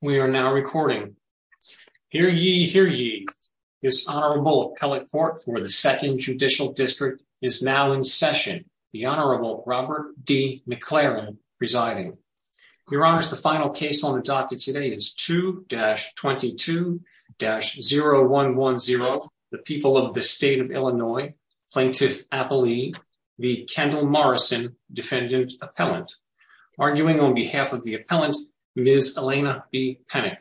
We are now recording. Hear ye, hear ye. This Honorable Appellate Court for the 2nd Judicial District is now in session. The Honorable Robert D. McLaren presiding. Your Honors, the final case on the docket today is 2-22-0110, the People of the State of Illinois Plaintiff Appellee v. Kendall Morrison, Defendant Appellant. Arguing on behalf of the Appellant, Ms. Elena B. Penick.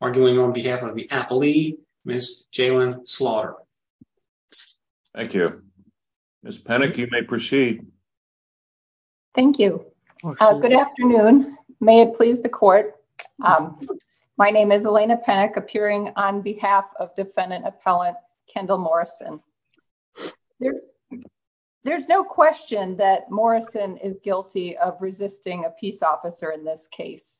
Arguing on behalf of the Appellee, Ms. Jalyn Slaughter. Thank you. Ms. Penick, you may proceed. Thank you. Good afternoon. May it please the Court. My name is Elena Penick, appearing on behalf of Defendant Appellant Kendall Morrison. There's no question that Morrison is guilty of resisting a peace officer in this case.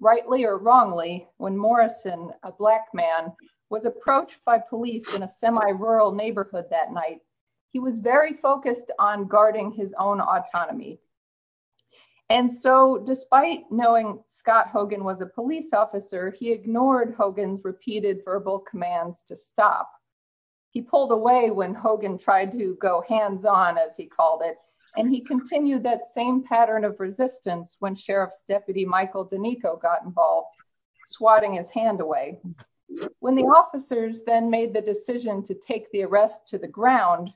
Rightly or wrongly, when Morrison, a Black man, was approached by police in a semi-rural neighborhood that night, he was very focused on guarding his own autonomy. And so, despite knowing Scott Hogan was a police officer, he ignored Hogan's repeated verbal commands to stop. He pulled away when Hogan tried to go hands-on, as he called it, and he continued that same pattern of resistance when Sheriff's Deputy Michael Danico got involved, swatting his hand away. When the officers then made the decision to take the arrest to the ground,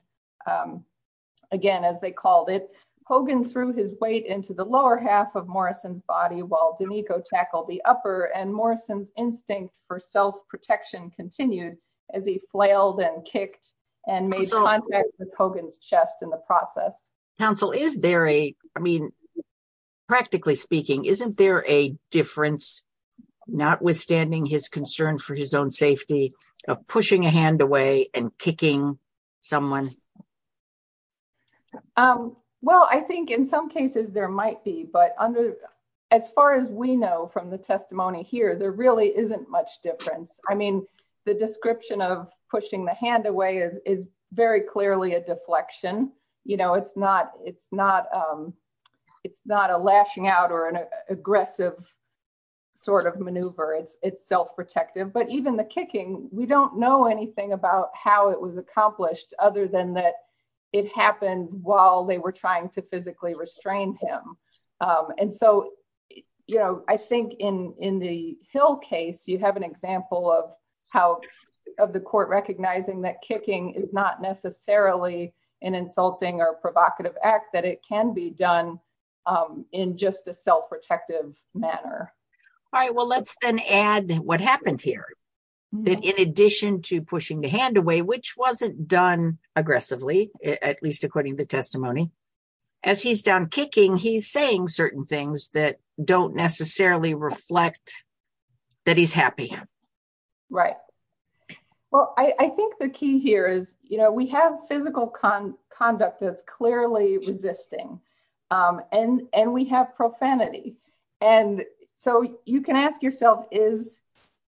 again, as they called it, Hogan threw his weight into the lower half of Morrison's body while Danico tackled the upper, and Morrison's instinct for self-protection continued as he flailed and kicked and made contact with Hogan's chest in the process. Counsel, is there a, I mean, practically speaking, isn't there a difference, notwithstanding his concern for his own safety, of pushing a hand away and kicking someone? Well, I think in some cases there might be, but as far as we know from the testimony here, there really isn't much difference. I mean, the description of pushing the hand away is very clearly a deflection. You know, it's not a lashing out or an aggressive sort of maneuver, it's self-protective. But even the kicking, we don't know anything about how it was accomplished other than that it happened while they were trying to physically restrain him. And so, you know, I think in the Hill case, you have an example of how, of the court recognizing that kicking is not necessarily an insulting or provocative act, that it can be done in just a self-protective manner. All right, well, let's then add what happened here. That in addition to pushing the hand away, which wasn't done aggressively, at least according to the testimony, as he's down kicking, he's saying certain things that don't necessarily reflect that he's happy. Right. Well, I think the key here is, you know, we have physical conduct that's clearly resisting and we have profanity. And so you can ask yourself, is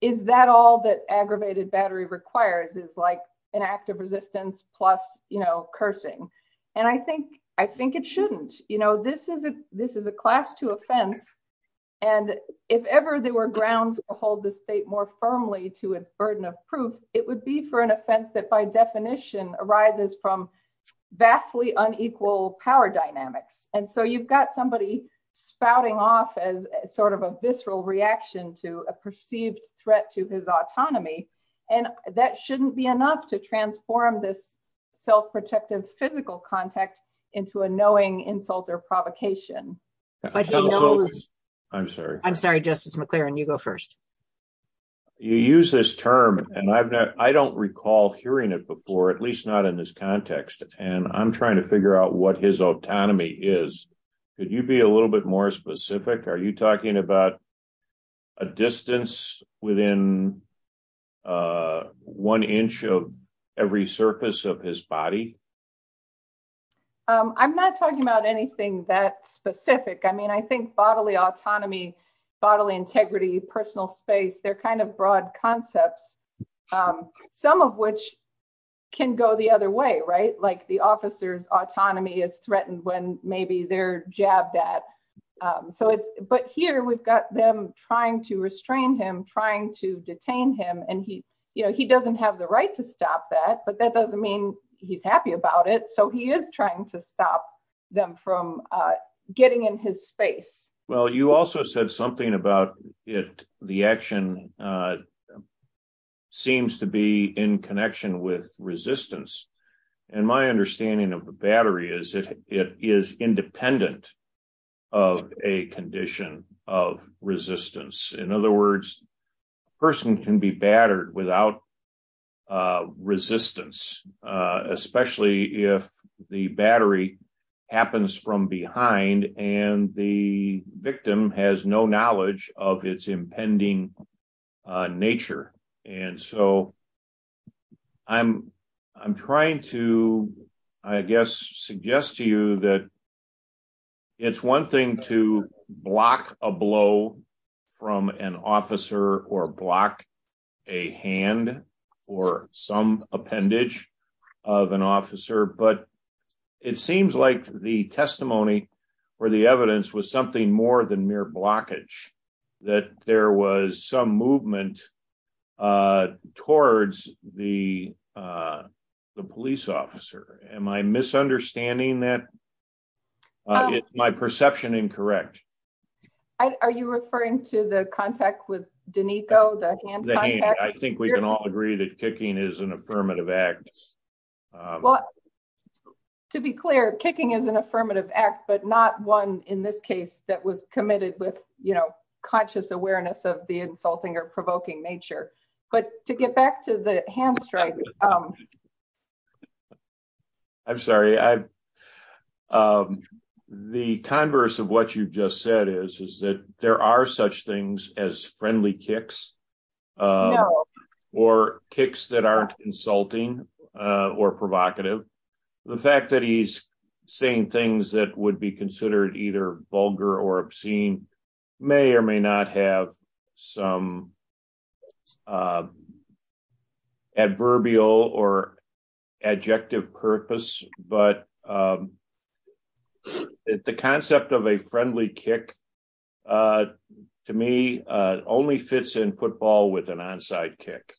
is that all that aggravated battery requires is like an act of resistance plus, you know, cursing. And I think I think it shouldn't. You know, this is a this is a class two offense. And if ever there were grounds to hold the state more firmly to its burden of proof, it would be for an offense that by definition arises from vastly unequal power dynamics. And so you've got somebody spouting off as sort of a visceral reaction to a perceived threat to his autonomy. And that shouldn't be enough to transform this self-protective physical contact into a knowing insult or provocation. I'm sorry. I'm sorry, Justice McClaren, you go first. You use this term and I don't recall hearing it before, at least not in this context. And I'm trying to figure out what his autonomy is. Could you be a little bit more specific? Are you talking about a distance within one inch of every surface of his body? I'm not talking about anything that specific. I mean, I think bodily autonomy, bodily integrity, personal space. They're kind of broad concepts, some of which can go the other way. Right. Like the officer's autonomy is threatened when maybe they're jabbed at. So it's but here we've got them trying to restrain him, trying to detain him. And he you know, he doesn't have the right to stop that. But that doesn't mean he's happy about it. So he is trying to stop them from getting in his space. Well, you also said something about it. The action seems to be in connection with resistance. And my understanding of the battery is that it is independent of a condition of resistance. In other words, a person can be battered without resistance, especially if the battery happens from behind and the victim has no knowledge of its impending nature. And so I'm I'm trying to, I guess, suggest to you that it's one thing to block a blow from an officer or block a hand or some appendage of an officer. But it seems like the testimony or the evidence was something more than mere blockage, that there was some movement towards the police officer. Am I misunderstanding that? Is my perception incorrect? Are you referring to the contact with Danico? I think we can all agree that kicking is an affirmative act. Well, to be clear, kicking is an affirmative act, but not one in this case that was committed with, you know, conscious awareness of the insulting or provoking nature. But to get back to the hand strike. I'm sorry. The converse of what you just said is, is that there are such things as friendly kicks or kicks that aren't insulting or provocative. The fact that he's saying things that would be considered either vulgar or obscene may or may not have some adverbial or adjective purpose, but the concept of a friendly kick, to me, only fits in football with an onside kick.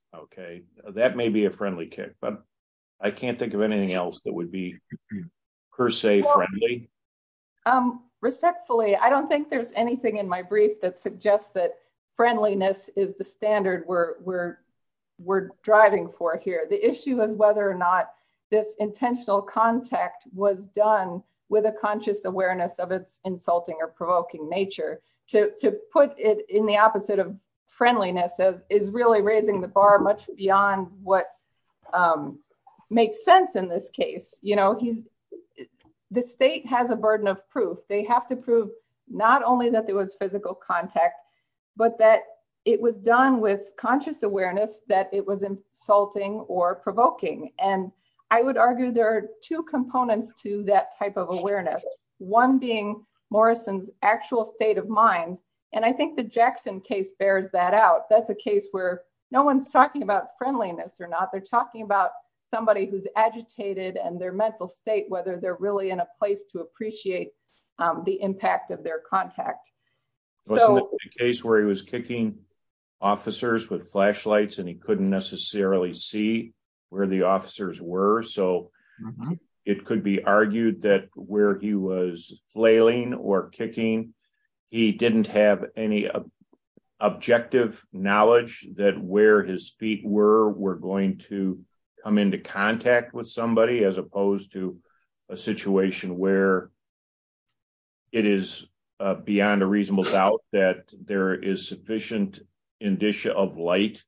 That may be a friendly kick, but I can't think of anything else that would be per se friendly. Respectfully, I don't think there's anything in my brief that suggests that friendliness is the standard we're driving for here. The issue is whether or not this intentional contact was done with a conscious awareness of its insulting or provoking nature. To put it in the opposite of friendliness is really raising the bar much beyond what makes sense in this case. The state has a burden of proof. They have to prove not only that there was physical contact, but that it was done with conscious awareness that it was insulting or provoking. And I would argue there are two components to that type of awareness, one being Morrison's actual state of mind. And I think the Jackson case bears that out. That's a case where no one's talking about friendliness or not. They're talking about their mental state, whether they're really in a place to appreciate the impact of their contact. It was a case where he was kicking officers with flashlights and he couldn't necessarily see where the officers were. It could be argued that where he was flailing or kicking, he didn't have any objective knowledge that where his feet were going to come into contact with somebody as opposed to a situation where it is beyond a reasonable doubt that there is sufficient indicia of light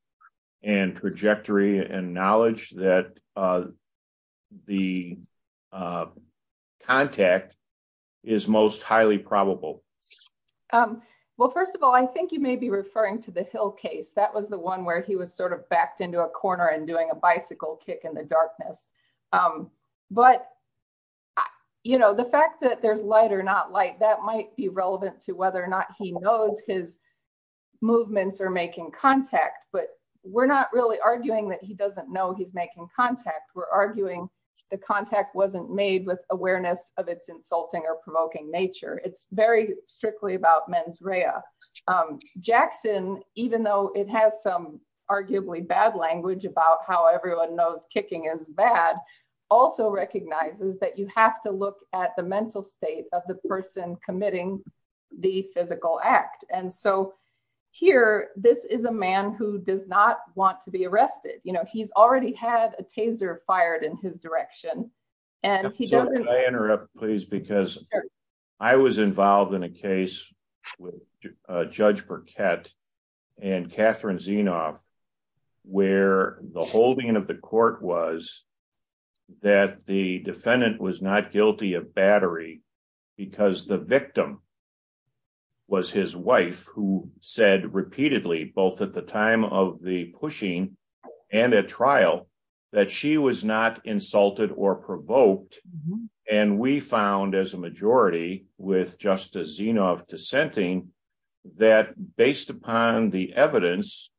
and trajectory and knowledge that the contact is most highly probable. Well, first of all, I think you may be referring to the Hill case. That was the one where he was sort of backed into a corner and doing a bicycle kick in the darkness. But, you know, the fact that there's light or not light, that might be relevant to whether or not he knows his movements are making contact. But we're not really arguing that he doesn't know he's making contact. We're arguing the contact wasn't made with awareness of its insulting or provoking nature. Jackson, even though it has some arguably bad language about how everyone knows kicking is bad, also recognizes that you have to look at the mental state of the person committing the physical act. And so here, this is a man who does not want to be arrested. You know, he's already had a taser fired in his direction. Can I interrupt, please, because I was involved in a case with Judge Burkett and Catherine Zinoff, where the holding of the court was that the defendant was not guilty of battery, because the victim was his wife, who said repeatedly, both at the time of the pushing and at trial, that she was not insulted or provoked. And we found as a majority, with Justice Zinoff dissenting, that based upon the evidence,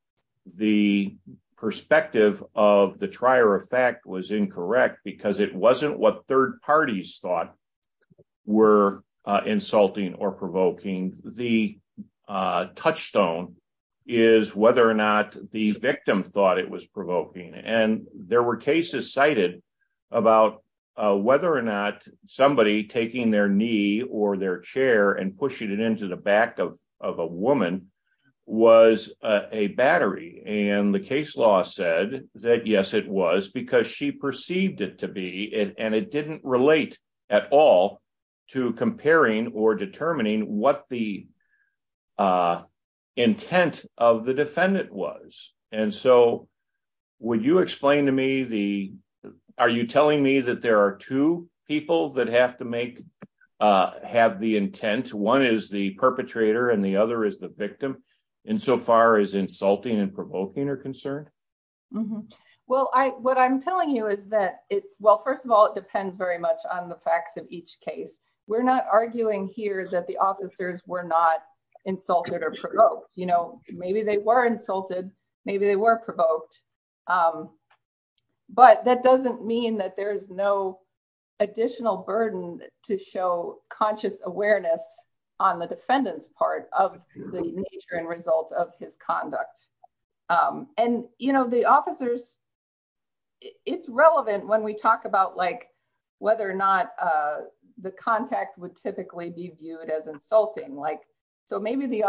the perspective of the trier of fact was incorrect because it wasn't what third parties thought were insulting or provoking. The touchstone is whether or not the victim thought it was provoking. And there were cases cited about whether or not somebody taking their knee or their chair and pushing it into the back of a woman was a battery. And the case law said that, yes, it was, because she perceived it to be, and it didn't relate at all to comparing or determining what the intent of the defendant was. And so, would you explain to me the, are you telling me that there are two people that have to make, have the intent, one is the perpetrator and the other is the victim, insofar as insulting and provoking are concerned? Well, I, what I'm telling you is that it, well, first of all, it depends very much on the facts of each case. We're not arguing here that the officers were not insulted or provoked, you know, maybe they were insulted, maybe they were provoked. But that doesn't mean that there's no additional burden to show conscious awareness on the defendant's part of the nature and result of his conduct. And, you know, the officers, it's relevant when we talk about, like, whether or not the contact would typically be viewed as insulting, like, so maybe the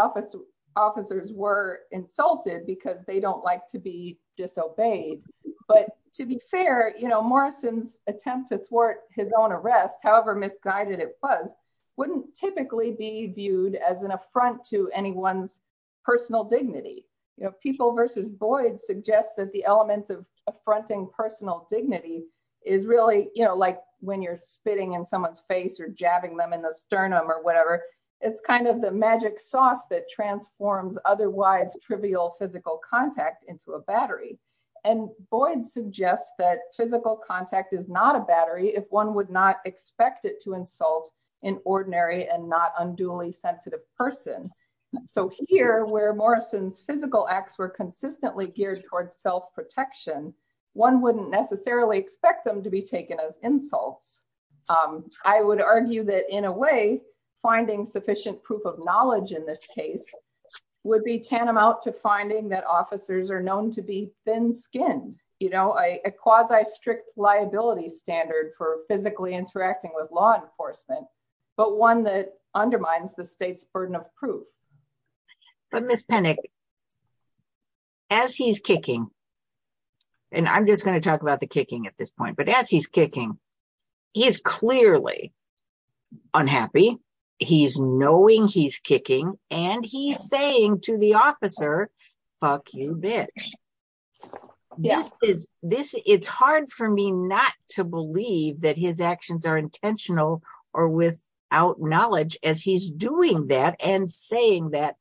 officers were insulted because they don't like to be disobeyed. But to be fair, you know, Morrison's attempt to thwart his own arrest, however misguided it was, wouldn't typically be viewed as an affront to anyone's personal dignity. You know, People v. Boyd suggests that the elements of affronting personal dignity is really, you know, like when you're spitting in someone's face or jabbing them in the sternum or whatever, it's kind of the magic sauce that transforms otherwise trivial physical contact into a battery. And Boyd suggests that physical contact is not a battery if one would not expect it to insult an ordinary and not unduly sensitive person. So here, where Morrison's physical acts were consistently geared towards self protection, one wouldn't necessarily expect them to be taken as insults. I would argue that in a way, finding sufficient proof of knowledge in this case would be tantamount to finding that officers are known to be thin skinned, you know, a quasi strict liability standard for physically interacting with law enforcement, but one that undermines the state's burden of proof. But Miss Penick, as he's kicking, and I'm just going to talk about the kicking at this point, but as he's kicking, he is clearly unhappy. He's knowing he's kicking, and he's saying to the officer, fuck you, bitch. It's hard for me not to believe that his actions are intentional, or without knowledge as he's doing that and saying that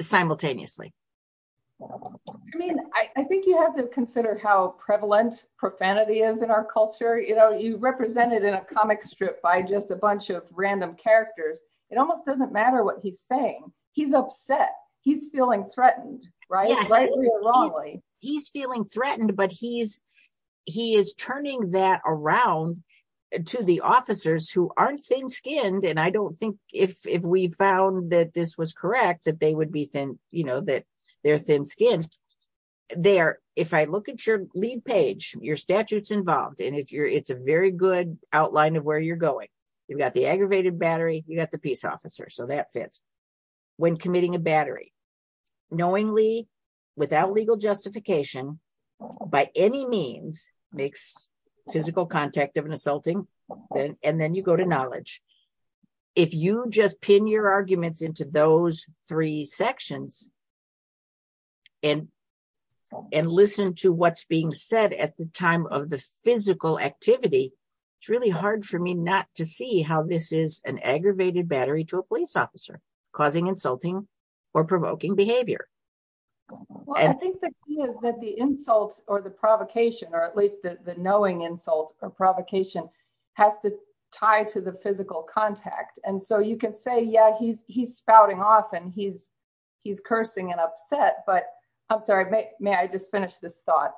simultaneously. I mean, I think you have to consider how prevalent profanity is in our culture, you know, you represented in a comic strip by just a bunch of random characters. It almost doesn't matter what he's saying. He's upset. He's feeling threatened, right? He's feeling threatened, but he is turning that around to the officers who aren't thin skinned, and I don't think if we found that this was correct, that they would be thin, you know, that they're thin skinned. There, if I look at your lead page, your statutes involved, and it's a very good outline of where you're going. You've got the aggravated battery, you got the peace officer, so that fits. When committing a battery, knowingly, without legal justification, by any means, makes physical contact of an assaulting, and then you go to knowledge. If you just pin your arguments into those three sections, and listen to what's being said at the time of the physical activity, it's really hard for me not to see how this is an aggravated battery to a police officer, causing insulting or provoking behavior. I think that the insult or the provocation, or at least the knowing insult or provocation, has to tie to the physical contact, and so you can say, yeah, he's spouting off, and he's cursing and upset, but I'm sorry, may I just finish this thought?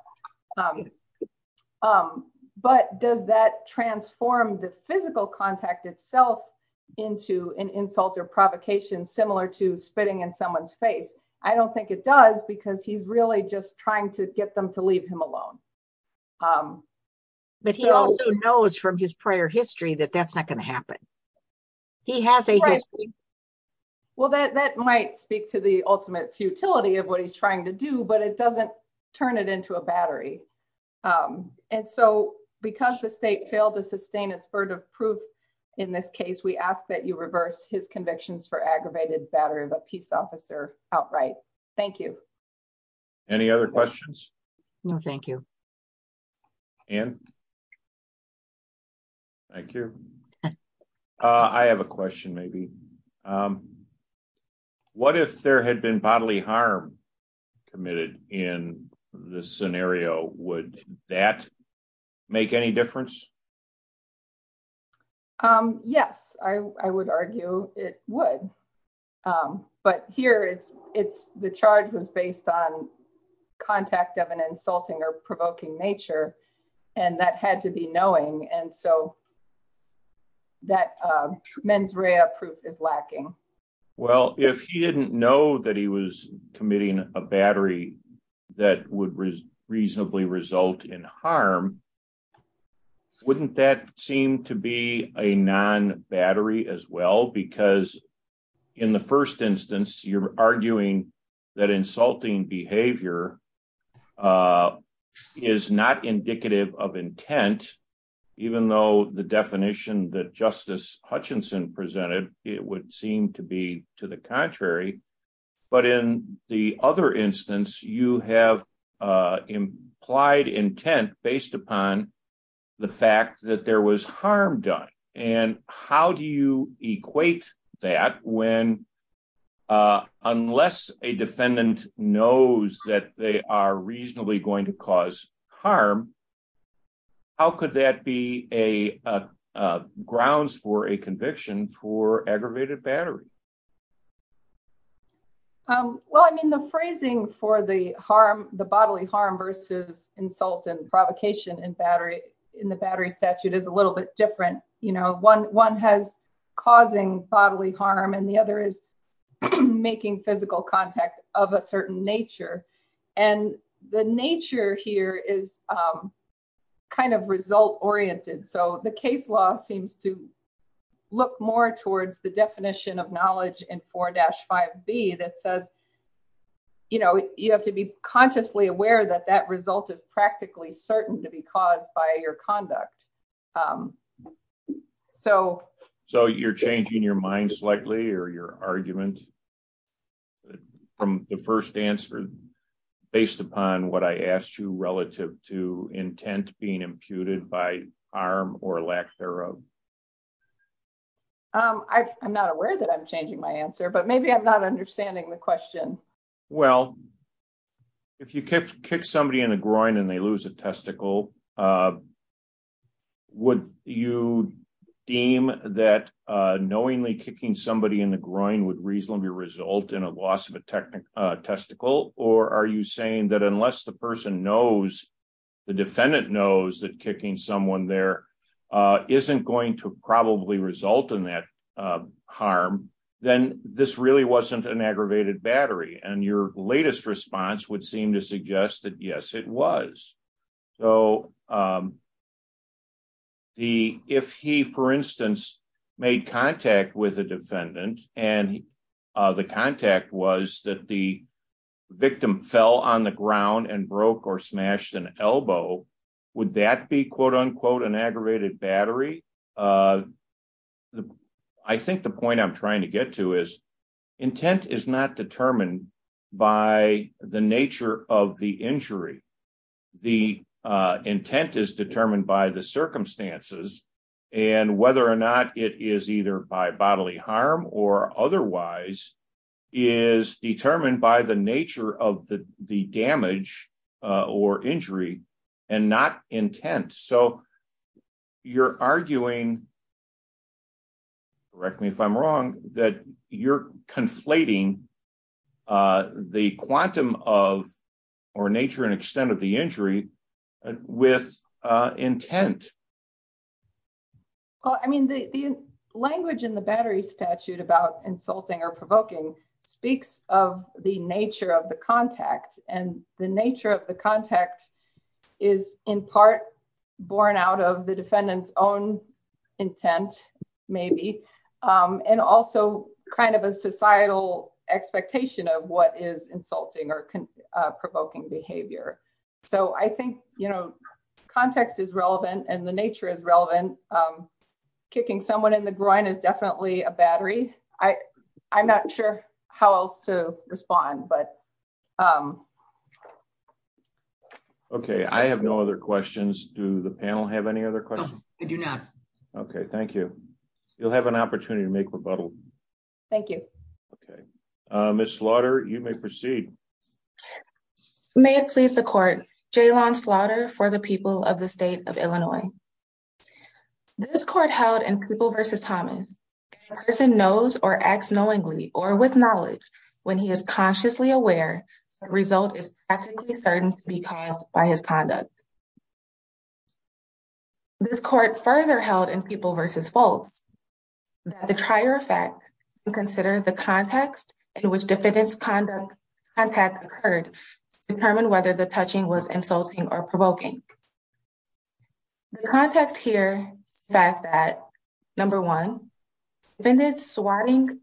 But does that transform the physical contact itself into an insult or provocation, similar to spitting in someone's face? I don't think it does, because he's really just trying to get them to leave him alone. But he also knows from his prior history that that's not going to happen. He has a history. Well, that might speak to the ultimate futility of what he's trying to do, but it doesn't turn it into a battery. And so, because the state failed to sustain its burden of proof in this case, we ask that you reverse his convictions for aggravated battery of a peace officer outright. Thank you. Any other questions? No, thank you. Ann? Thank you. I have a question, maybe. What if there had been bodily harm committed in this scenario? Would that make any difference? Yes, I would argue it would. But here, the charge was based on contact of an insulting or provoking nature, and that had to be knowing, and so that mens rea proof is lacking. Well, if he didn't know that he was committing a battery that would reasonably result in harm, wouldn't that seem to be a non-battery as well? Because in the first instance, you're arguing that insulting behavior is not indicative of intent. Even though the definition that Justice Hutchinson presented, it would seem to be to the contrary. But in the other instance, you have implied intent based upon the fact that there was harm done. And how do you equate that when, unless a defendant knows that they are reasonably going to cause harm, how could that be grounds for a conviction for aggravated battery? Well, I mean, the phrasing for the bodily harm versus insult and provocation in the battery statute is a little bit different. You know, one has causing bodily harm and the other is making physical contact of a certain nature. And the nature here is kind of result-oriented. So the case law seems to look more towards the definition of knowledge in 4-5b that says, you know, you have to be consciously aware that that result is practically certain to be caused by your conduct. So you're changing your mind slightly or your argument from the first answer, based upon what I asked you relative to intent being imputed by harm or lack thereof? I'm not aware that I'm changing my answer, but maybe I'm not understanding the question. Well, if you kick somebody in the groin and they lose a testicle, would you deem that knowingly kicking somebody in the groin would reasonably result in a loss of a testicle? Or are you saying that unless the person knows, the defendant knows that kicking someone there isn't going to probably result in that harm, then this really wasn't an aggravated battery. And your latest response would seem to suggest that, yes, it was. So if he, for instance, made contact with a defendant, and the contact was that the victim fell on the ground and broke or smashed an elbow, would that be, quote unquote, an aggravated battery? I think the point I'm trying to get to is intent is not determined by the nature of the injury. The intent is determined by the circumstances, and whether or not it is either by bodily harm or otherwise is determined by the nature of the damage or injury and not intent. So you're arguing, correct me if I'm wrong, that you're conflating the quantum of or nature and extent of the injury with intent. Well, I mean, the language in the battery statute about insulting or provoking speaks of the nature of the contact. And the nature of the contact is in part born out of the defendant's own intent, maybe, and also kind of a societal expectation of what is insulting or provoking behavior. So I think, you know, context is relevant and the nature is relevant. Kicking someone in the groin is definitely a battery. I'm not sure how else to respond, but. Okay, I have no other questions. Do the panel have any other questions? I do not. Okay, thank you. You'll have an opportunity to make rebuttal. Thank you. Okay. Ms. Slaughter, you may proceed. May it please the court, Jaylon Slaughter for the people of the state of Illinois. This court held in People v. Thomas, a person knows or acts knowingly or with knowledge when he is consciously aware the result is practically certain to be caused by his conduct. This court further held in People v. Foltz that the trier effect to consider the context in which defendant's contact occurred to determine whether the touching was insulting or provoking. The context here is that, number one, defendant swatting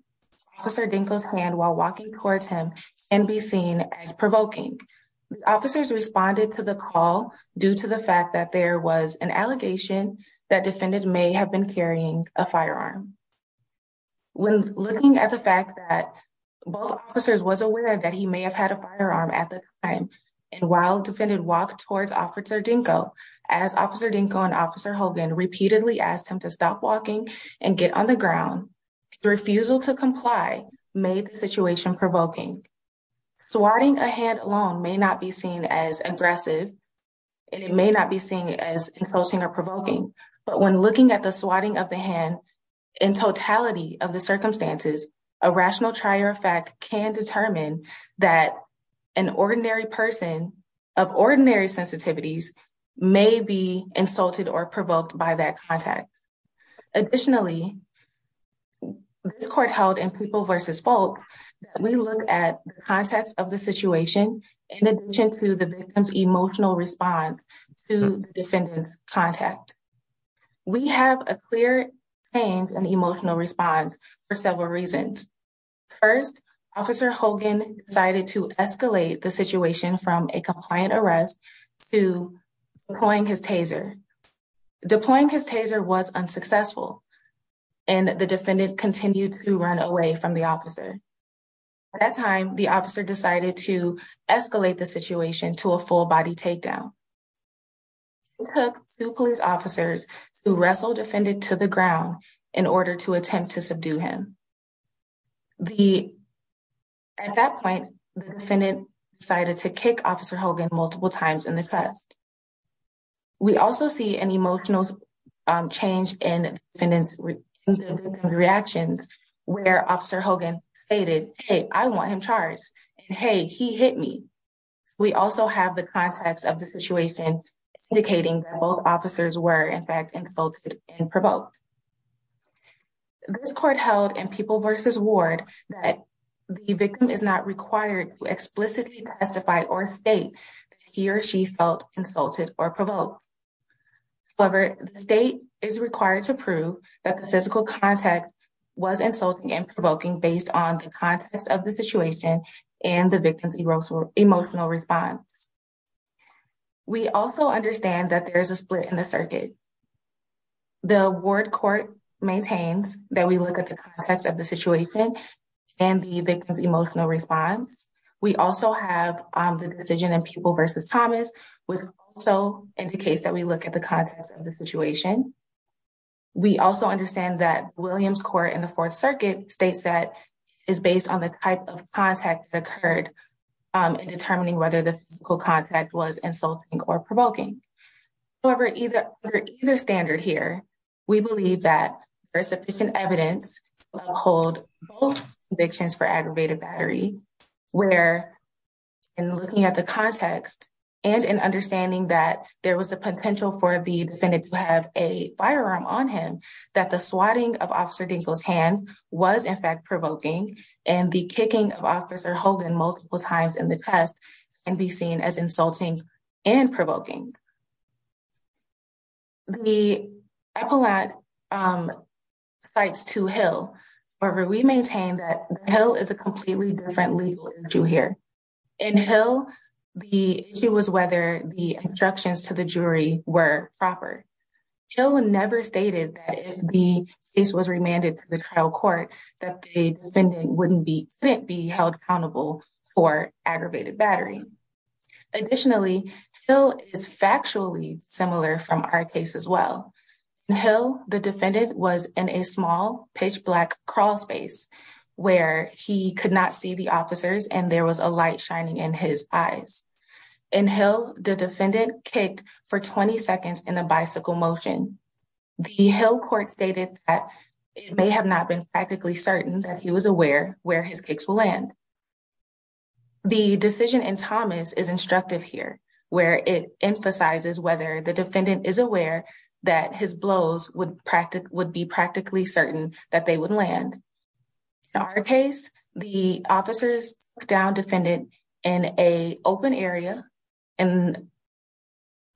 Officer Dinkle's hand while walking toward him can be seen as provoking. Officers responded to the call due to the fact that there was an allegation that defendant may have been carrying a firearm. When looking at the fact that both officers was aware that he may have had a firearm at the time, and while defendant walked towards Officer Dinkle, as Officer Dinkle and Officer Hogan repeatedly asked him to stop walking and get on the ground, the refusal to comply made the situation provoking. Swatting a hand alone may not be seen as aggressive and it may not be seen as insulting or provoking, but when looking at the swatting of the hand in totality of the circumstances, a rational trier effect can determine that an ordinary person of ordinary sensitivities may be insulted or provoked by that contact. Additionally, this court held in People v. Foltz that we look at the context of the situation in addition to the victim's emotional response to the defendant's contact. We have a clear change in the emotional response for several reasons. First, Officer Hogan decided to escalate the situation from a compliant arrest to deploying his taser. Deploying his taser was unsuccessful and the defendant continued to run away from the officer. At that time, the officer decided to escalate the situation to a full-body takedown. He took two police officers to wrestle defendant to the ground in order to attempt to subdue him. At that point, the defendant decided to kick Officer Hogan multiple times in the chest. We also see an emotional change in the defendant's reaction where Officer Hogan stated, Hey, I want him charged, and hey, he hit me. We also have the context of the situation indicating that both officers were, in fact, insulted and provoked. This court held in People v. Ward that the victim is not required to explicitly testify or state that he or she felt insulted or provoked. However, the state is required to prove that the physical contact was insulting and provoking based on the context of the situation and the victim's emotional response. We also understand that there is a split in the circuit. The Ward Court maintains that we look at the context of the situation and the victim's emotional response. We also have the decision in People v. Thomas which also indicates that we look at the context of the situation. We also understand that Williams Court in the Fourth Circuit states that it is based on the type of contact that occurred in determining whether the physical contact was insulting or provoking. However, under either standard here, we believe that there is sufficient evidence to uphold both convictions for aggravated battery where in looking at the context and in understanding that there was a potential for the defendant to have a firearm on him that the swatting of Officer Dinkle's hand was, in fact, provoking and the kicking of Officer Hogan multiple times in the test can be seen as insulting and provoking. The appellate cites to Hill. However, we maintain that Hill is a completely different legal issue here. In Hill, the issue was whether the instructions to the jury were proper. Hill never stated that if the case was remanded to the trial court that the defendant wouldn't be held accountable for aggravated battery. Additionally, Hill is factually similar from our case as well. In Hill, the defendant was in a small pitch black crawl space where he could not see the officers and there was a light shining in his eyes. In Hill, the defendant kicked for 20 seconds in a bicycle motion. The Hill court stated that it may have not been practically certain that he was aware where his kicks will land. The decision in Thomas is instructive here, where it emphasizes whether the defendant is aware that his blows would be practically certain that they would land. In our case, the officers took down defendant in an open area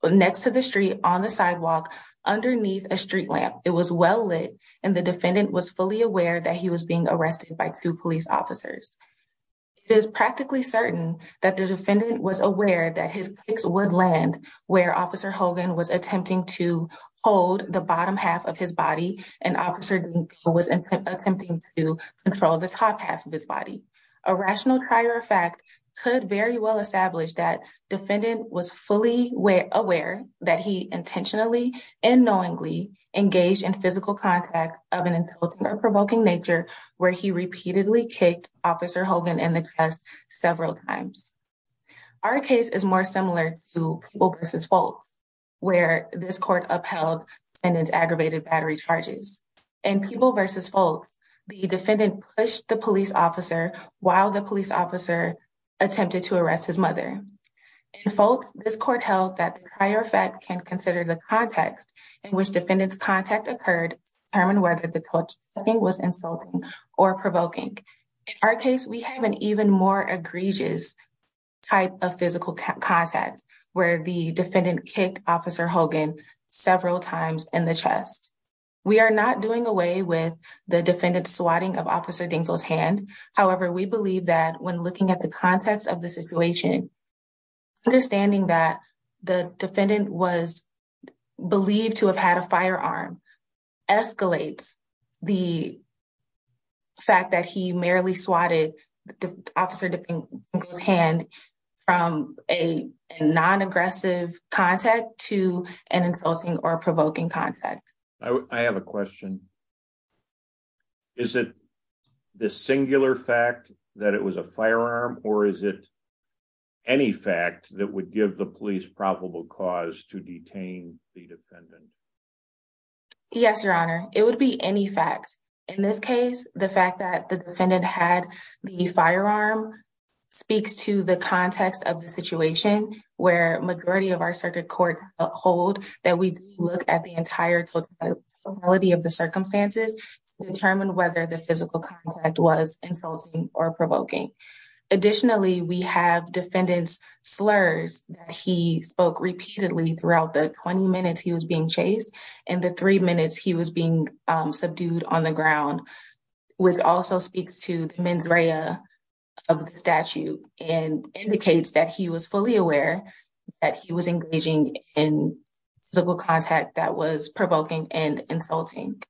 next to the street on the sidewalk underneath a street lamp. It was well lit and the defendant was fully aware that he was being arrested by two police officers. It is practically certain that the defendant was aware that his kicks would land where Officer Hogan was attempting to hold the bottom half of his body and Officer Dinko was attempting to control the top half of his body. A rational trier of fact could very well establish that defendant was fully aware that he intentionally and knowingly engaged in physical contact of an insulting or provoking nature where he repeatedly kicked Officer Hogan in the chest several times. Our case is more similar to People v. Folks, where this court upheld defendant's aggravated battery charges. In People v. Folks, the defendant pushed the police officer while the police officer attempted to arrest his mother. In Folks, this court held that the trier of fact can consider the context in which defendant's contact occurred to determine whether the touching was insulting or provoking. In our case, we have an even more egregious type of physical contact where the defendant kicked Officer Hogan several times in the chest. We are not doing away with the defendant's swatting of Officer Dinko's hand. However, we believe that when looking at the context of the situation, understanding that the defendant was believed to have had a firearm escalates the fact that he merely swatted Officer Dinko's hand from a non-aggressive contact to an insulting or provoking contact. I have a question. Is it the singular fact that it was a firearm or is it any fact that would give the police probable cause to detain the defendant? Yes, Your Honor. It would be any fact. In this case, the fact that the defendant had the firearm speaks to the context of the situation where majority of our circuit court uphold that we look at the entire totality of the circumstances to determine whether the physical contact was insulting or provoking. Additionally, we have defendant's slurs that he spoke repeatedly throughout the 20 minutes he was being chased and the three minutes he was being subdued on the ground, which also speaks to the mens rea of the statute and indicates that he was fully aware that he was engaging in physical contact that was provoking and insulting.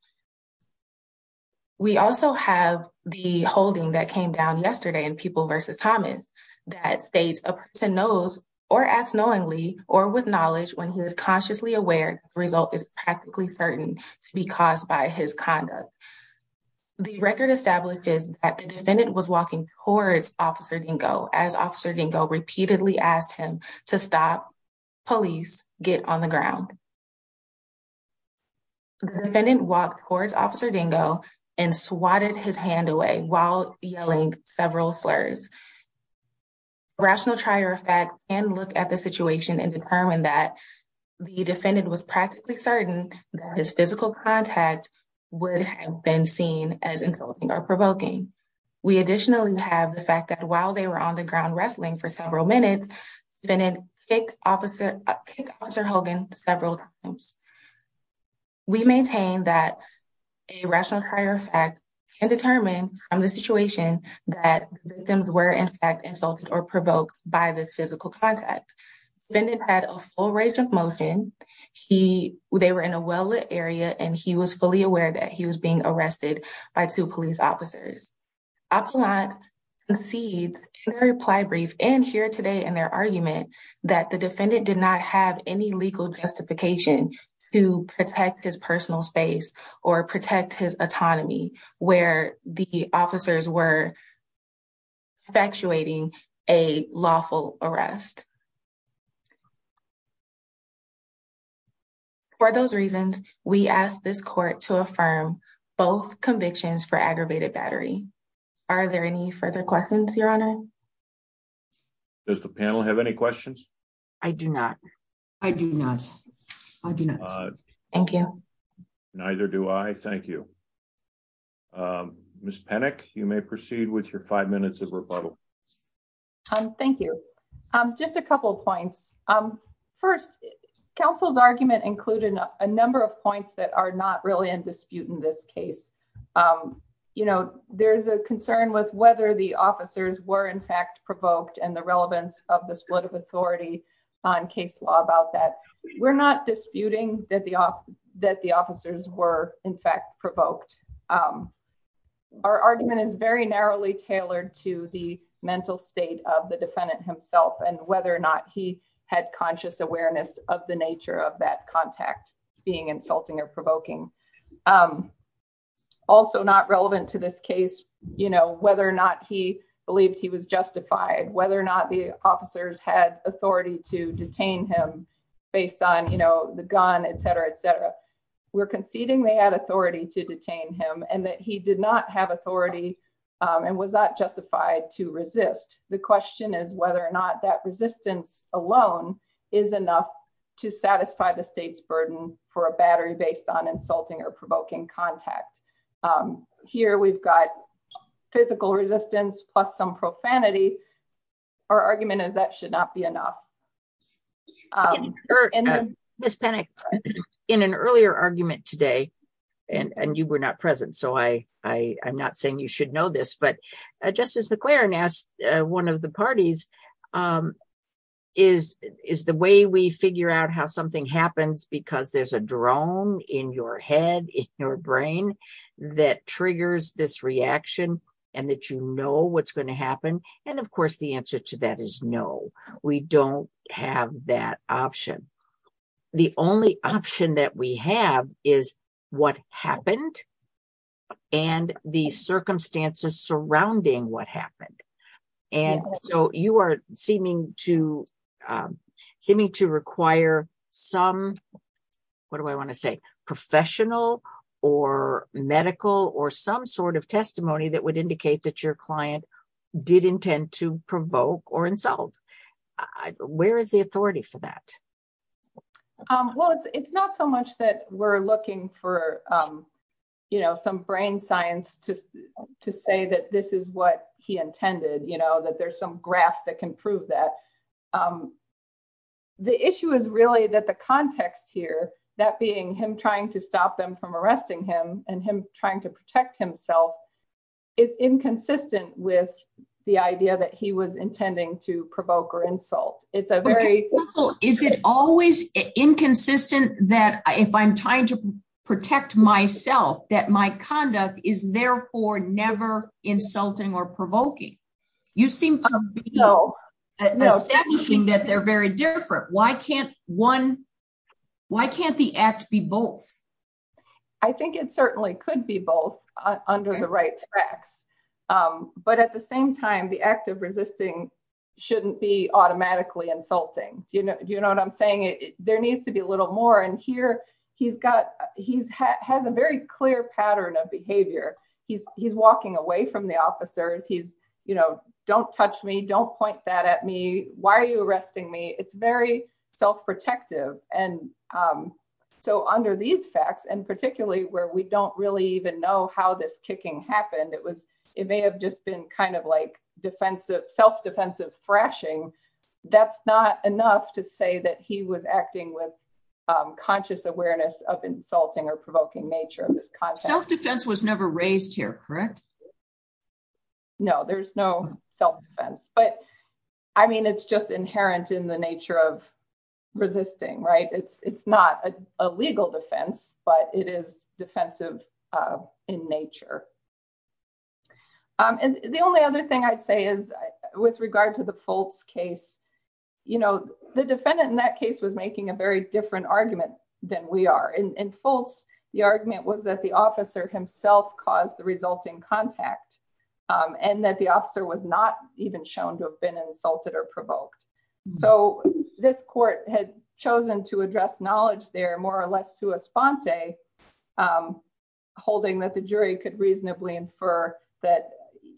We also have the holding that came down yesterday in People v. Thomas that states a person knows or acts knowingly or with knowledge when he is consciously aware the result is practically certain to be caused by his conduct. The record establishes that the defendant was walking towards Officer Dinko as Officer Dinko repeatedly asked him to stop police get on the ground. The defendant walked towards Officer Dinko and swatted his hand away while yelling several slurs. Rational try or effect can look at the situation and determine that the defendant was practically certain that his physical contact would have been seen as insulting or provoking. We additionally have the fact that while they were on the ground wrestling for several minutes, the defendant kicked Officer Hogan several times. We maintain that a rational try or effect can determine from the situation that the victims were in fact insulted or provoked by this physical contact. The defendant had a full range of motion. They were in a well-lit area and he was fully aware that he was being arrested by two police officers. The defendant did not have any legal justification to protect his personal space or protect his autonomy where the officers were effectuating a lawful arrest. For those reasons, we ask this court to affirm both convictions for aggravated battery. Are there any further questions, Your Honor? Does the panel have any questions? I do not. I do not. I do not. Thank you. Neither do I. Thank you. Ms. Penick, you may proceed with your five minutes of rebuttal. Thank you. Just a couple of points. First, counsel's argument included a number of points that are not really in dispute in this case. You know, there's a concern with whether the officers were in fact provoked and the relevance of the split of authority on case law about that. We're not disputing that the officers were in fact provoked. Our argument is very narrowly tailored to the mental state of the defendant himself and whether or not he had conscious awareness of the nature of that contact being insulting or provoking. Also not relevant to this case, you know, whether or not he believed he was justified, whether or not the officers had authority to detain him based on, you know, the gun, etc., etc. We're conceding they had authority to detain him and that he did not have authority and was not justified to resist. The question is whether or not that resistance alone is enough to satisfy the state's burden for a battery based on insulting or provoking contact. Here we've got physical resistance plus some profanity. Our argument is that should not be enough. Ms. Penick, in an earlier argument today, and you were not present so I'm not saying you should know this, but Justice McLaren asked one of the parties, is the way we figure out how something happens because there's a drone in your head, in your brain, that triggers this reaction and that you know what's going to happen. And of course the answer to that is no, we don't have that option. The only option that we have is what happened and the circumstances surrounding what happened. And so you are seeming to require some, what do I want to say, professional or medical or some sort of testimony that would indicate that your client did intend to provoke or insult. Where is the authority for that? Well, it's not so much that we're looking for, you know, some brain science to say that this is what he intended, you know, that there's some graph that can prove that. The issue is really that the context here, that being him trying to stop them from arresting him and him trying to protect himself, is inconsistent with the idea that he was intending to provoke or insult. Is it always inconsistent that if I'm trying to protect myself, that my conduct is therefore never insulting or provoking? You seem to be establishing that they're very different. Why can't one, why can't the act be both? I think it certainly could be both under the right tracks. But at the same time, the act of resisting shouldn't be automatically insulting. You know what I'm saying? There needs to be a little more. And here he's got, he has a very clear pattern of behavior. He's walking away from the officers. He's, you know, don't touch me. Don't point that at me. Why are you arresting me? It's very self-protective. And so under these facts, and particularly where we don't really even know how this kicking happened, it was, it may have just been kind of like defensive, self-defensive thrashing. That's not enough to say that he was acting with conscious awareness of insulting or provoking nature of this context. Self-defense was never raised here, correct? No, there's no self-defense, but I mean, it's just inherent in the nature of resisting, right? It's not a legal defense, but it is defensive in nature. And the only other thing I'd say is with regard to the Fultz case, you know, the defendant in that case was making a very different argument than we are. In Fultz, the argument was that the officer himself caused the resulting contact and that the officer was not even shown to have been insulted or provoked. So this court had chosen to address knowledge there more or less to a sponte, holding that the jury could reasonably infer that,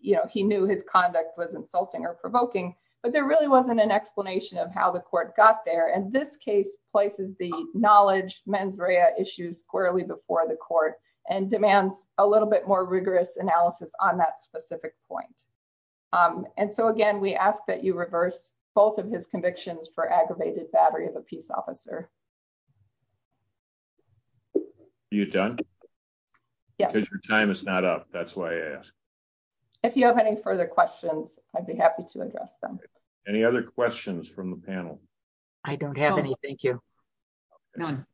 you know, he knew his conduct was insulting or provoking. But there really wasn't an explanation of how the court got there. And this case places the knowledge mens rea issues squarely before the court and demands a little bit more rigorous analysis on that specific point. And so, again, we ask that you reverse both of his convictions for aggravated battery of a peace officer. Are you done? Yes. Because your time is not up. That's why I asked. If you have any further questions, I'd be happy to address them. Any other questions from the panel? I don't have any. Thank you. None.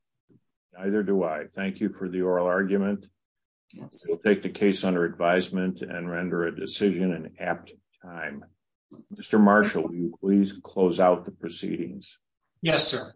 Neither do I. Thank you for the oral argument. We'll take the case under advisement and render a decision in apt time. Mr. Marshall, will you please close out the proceedings? Yes, sir.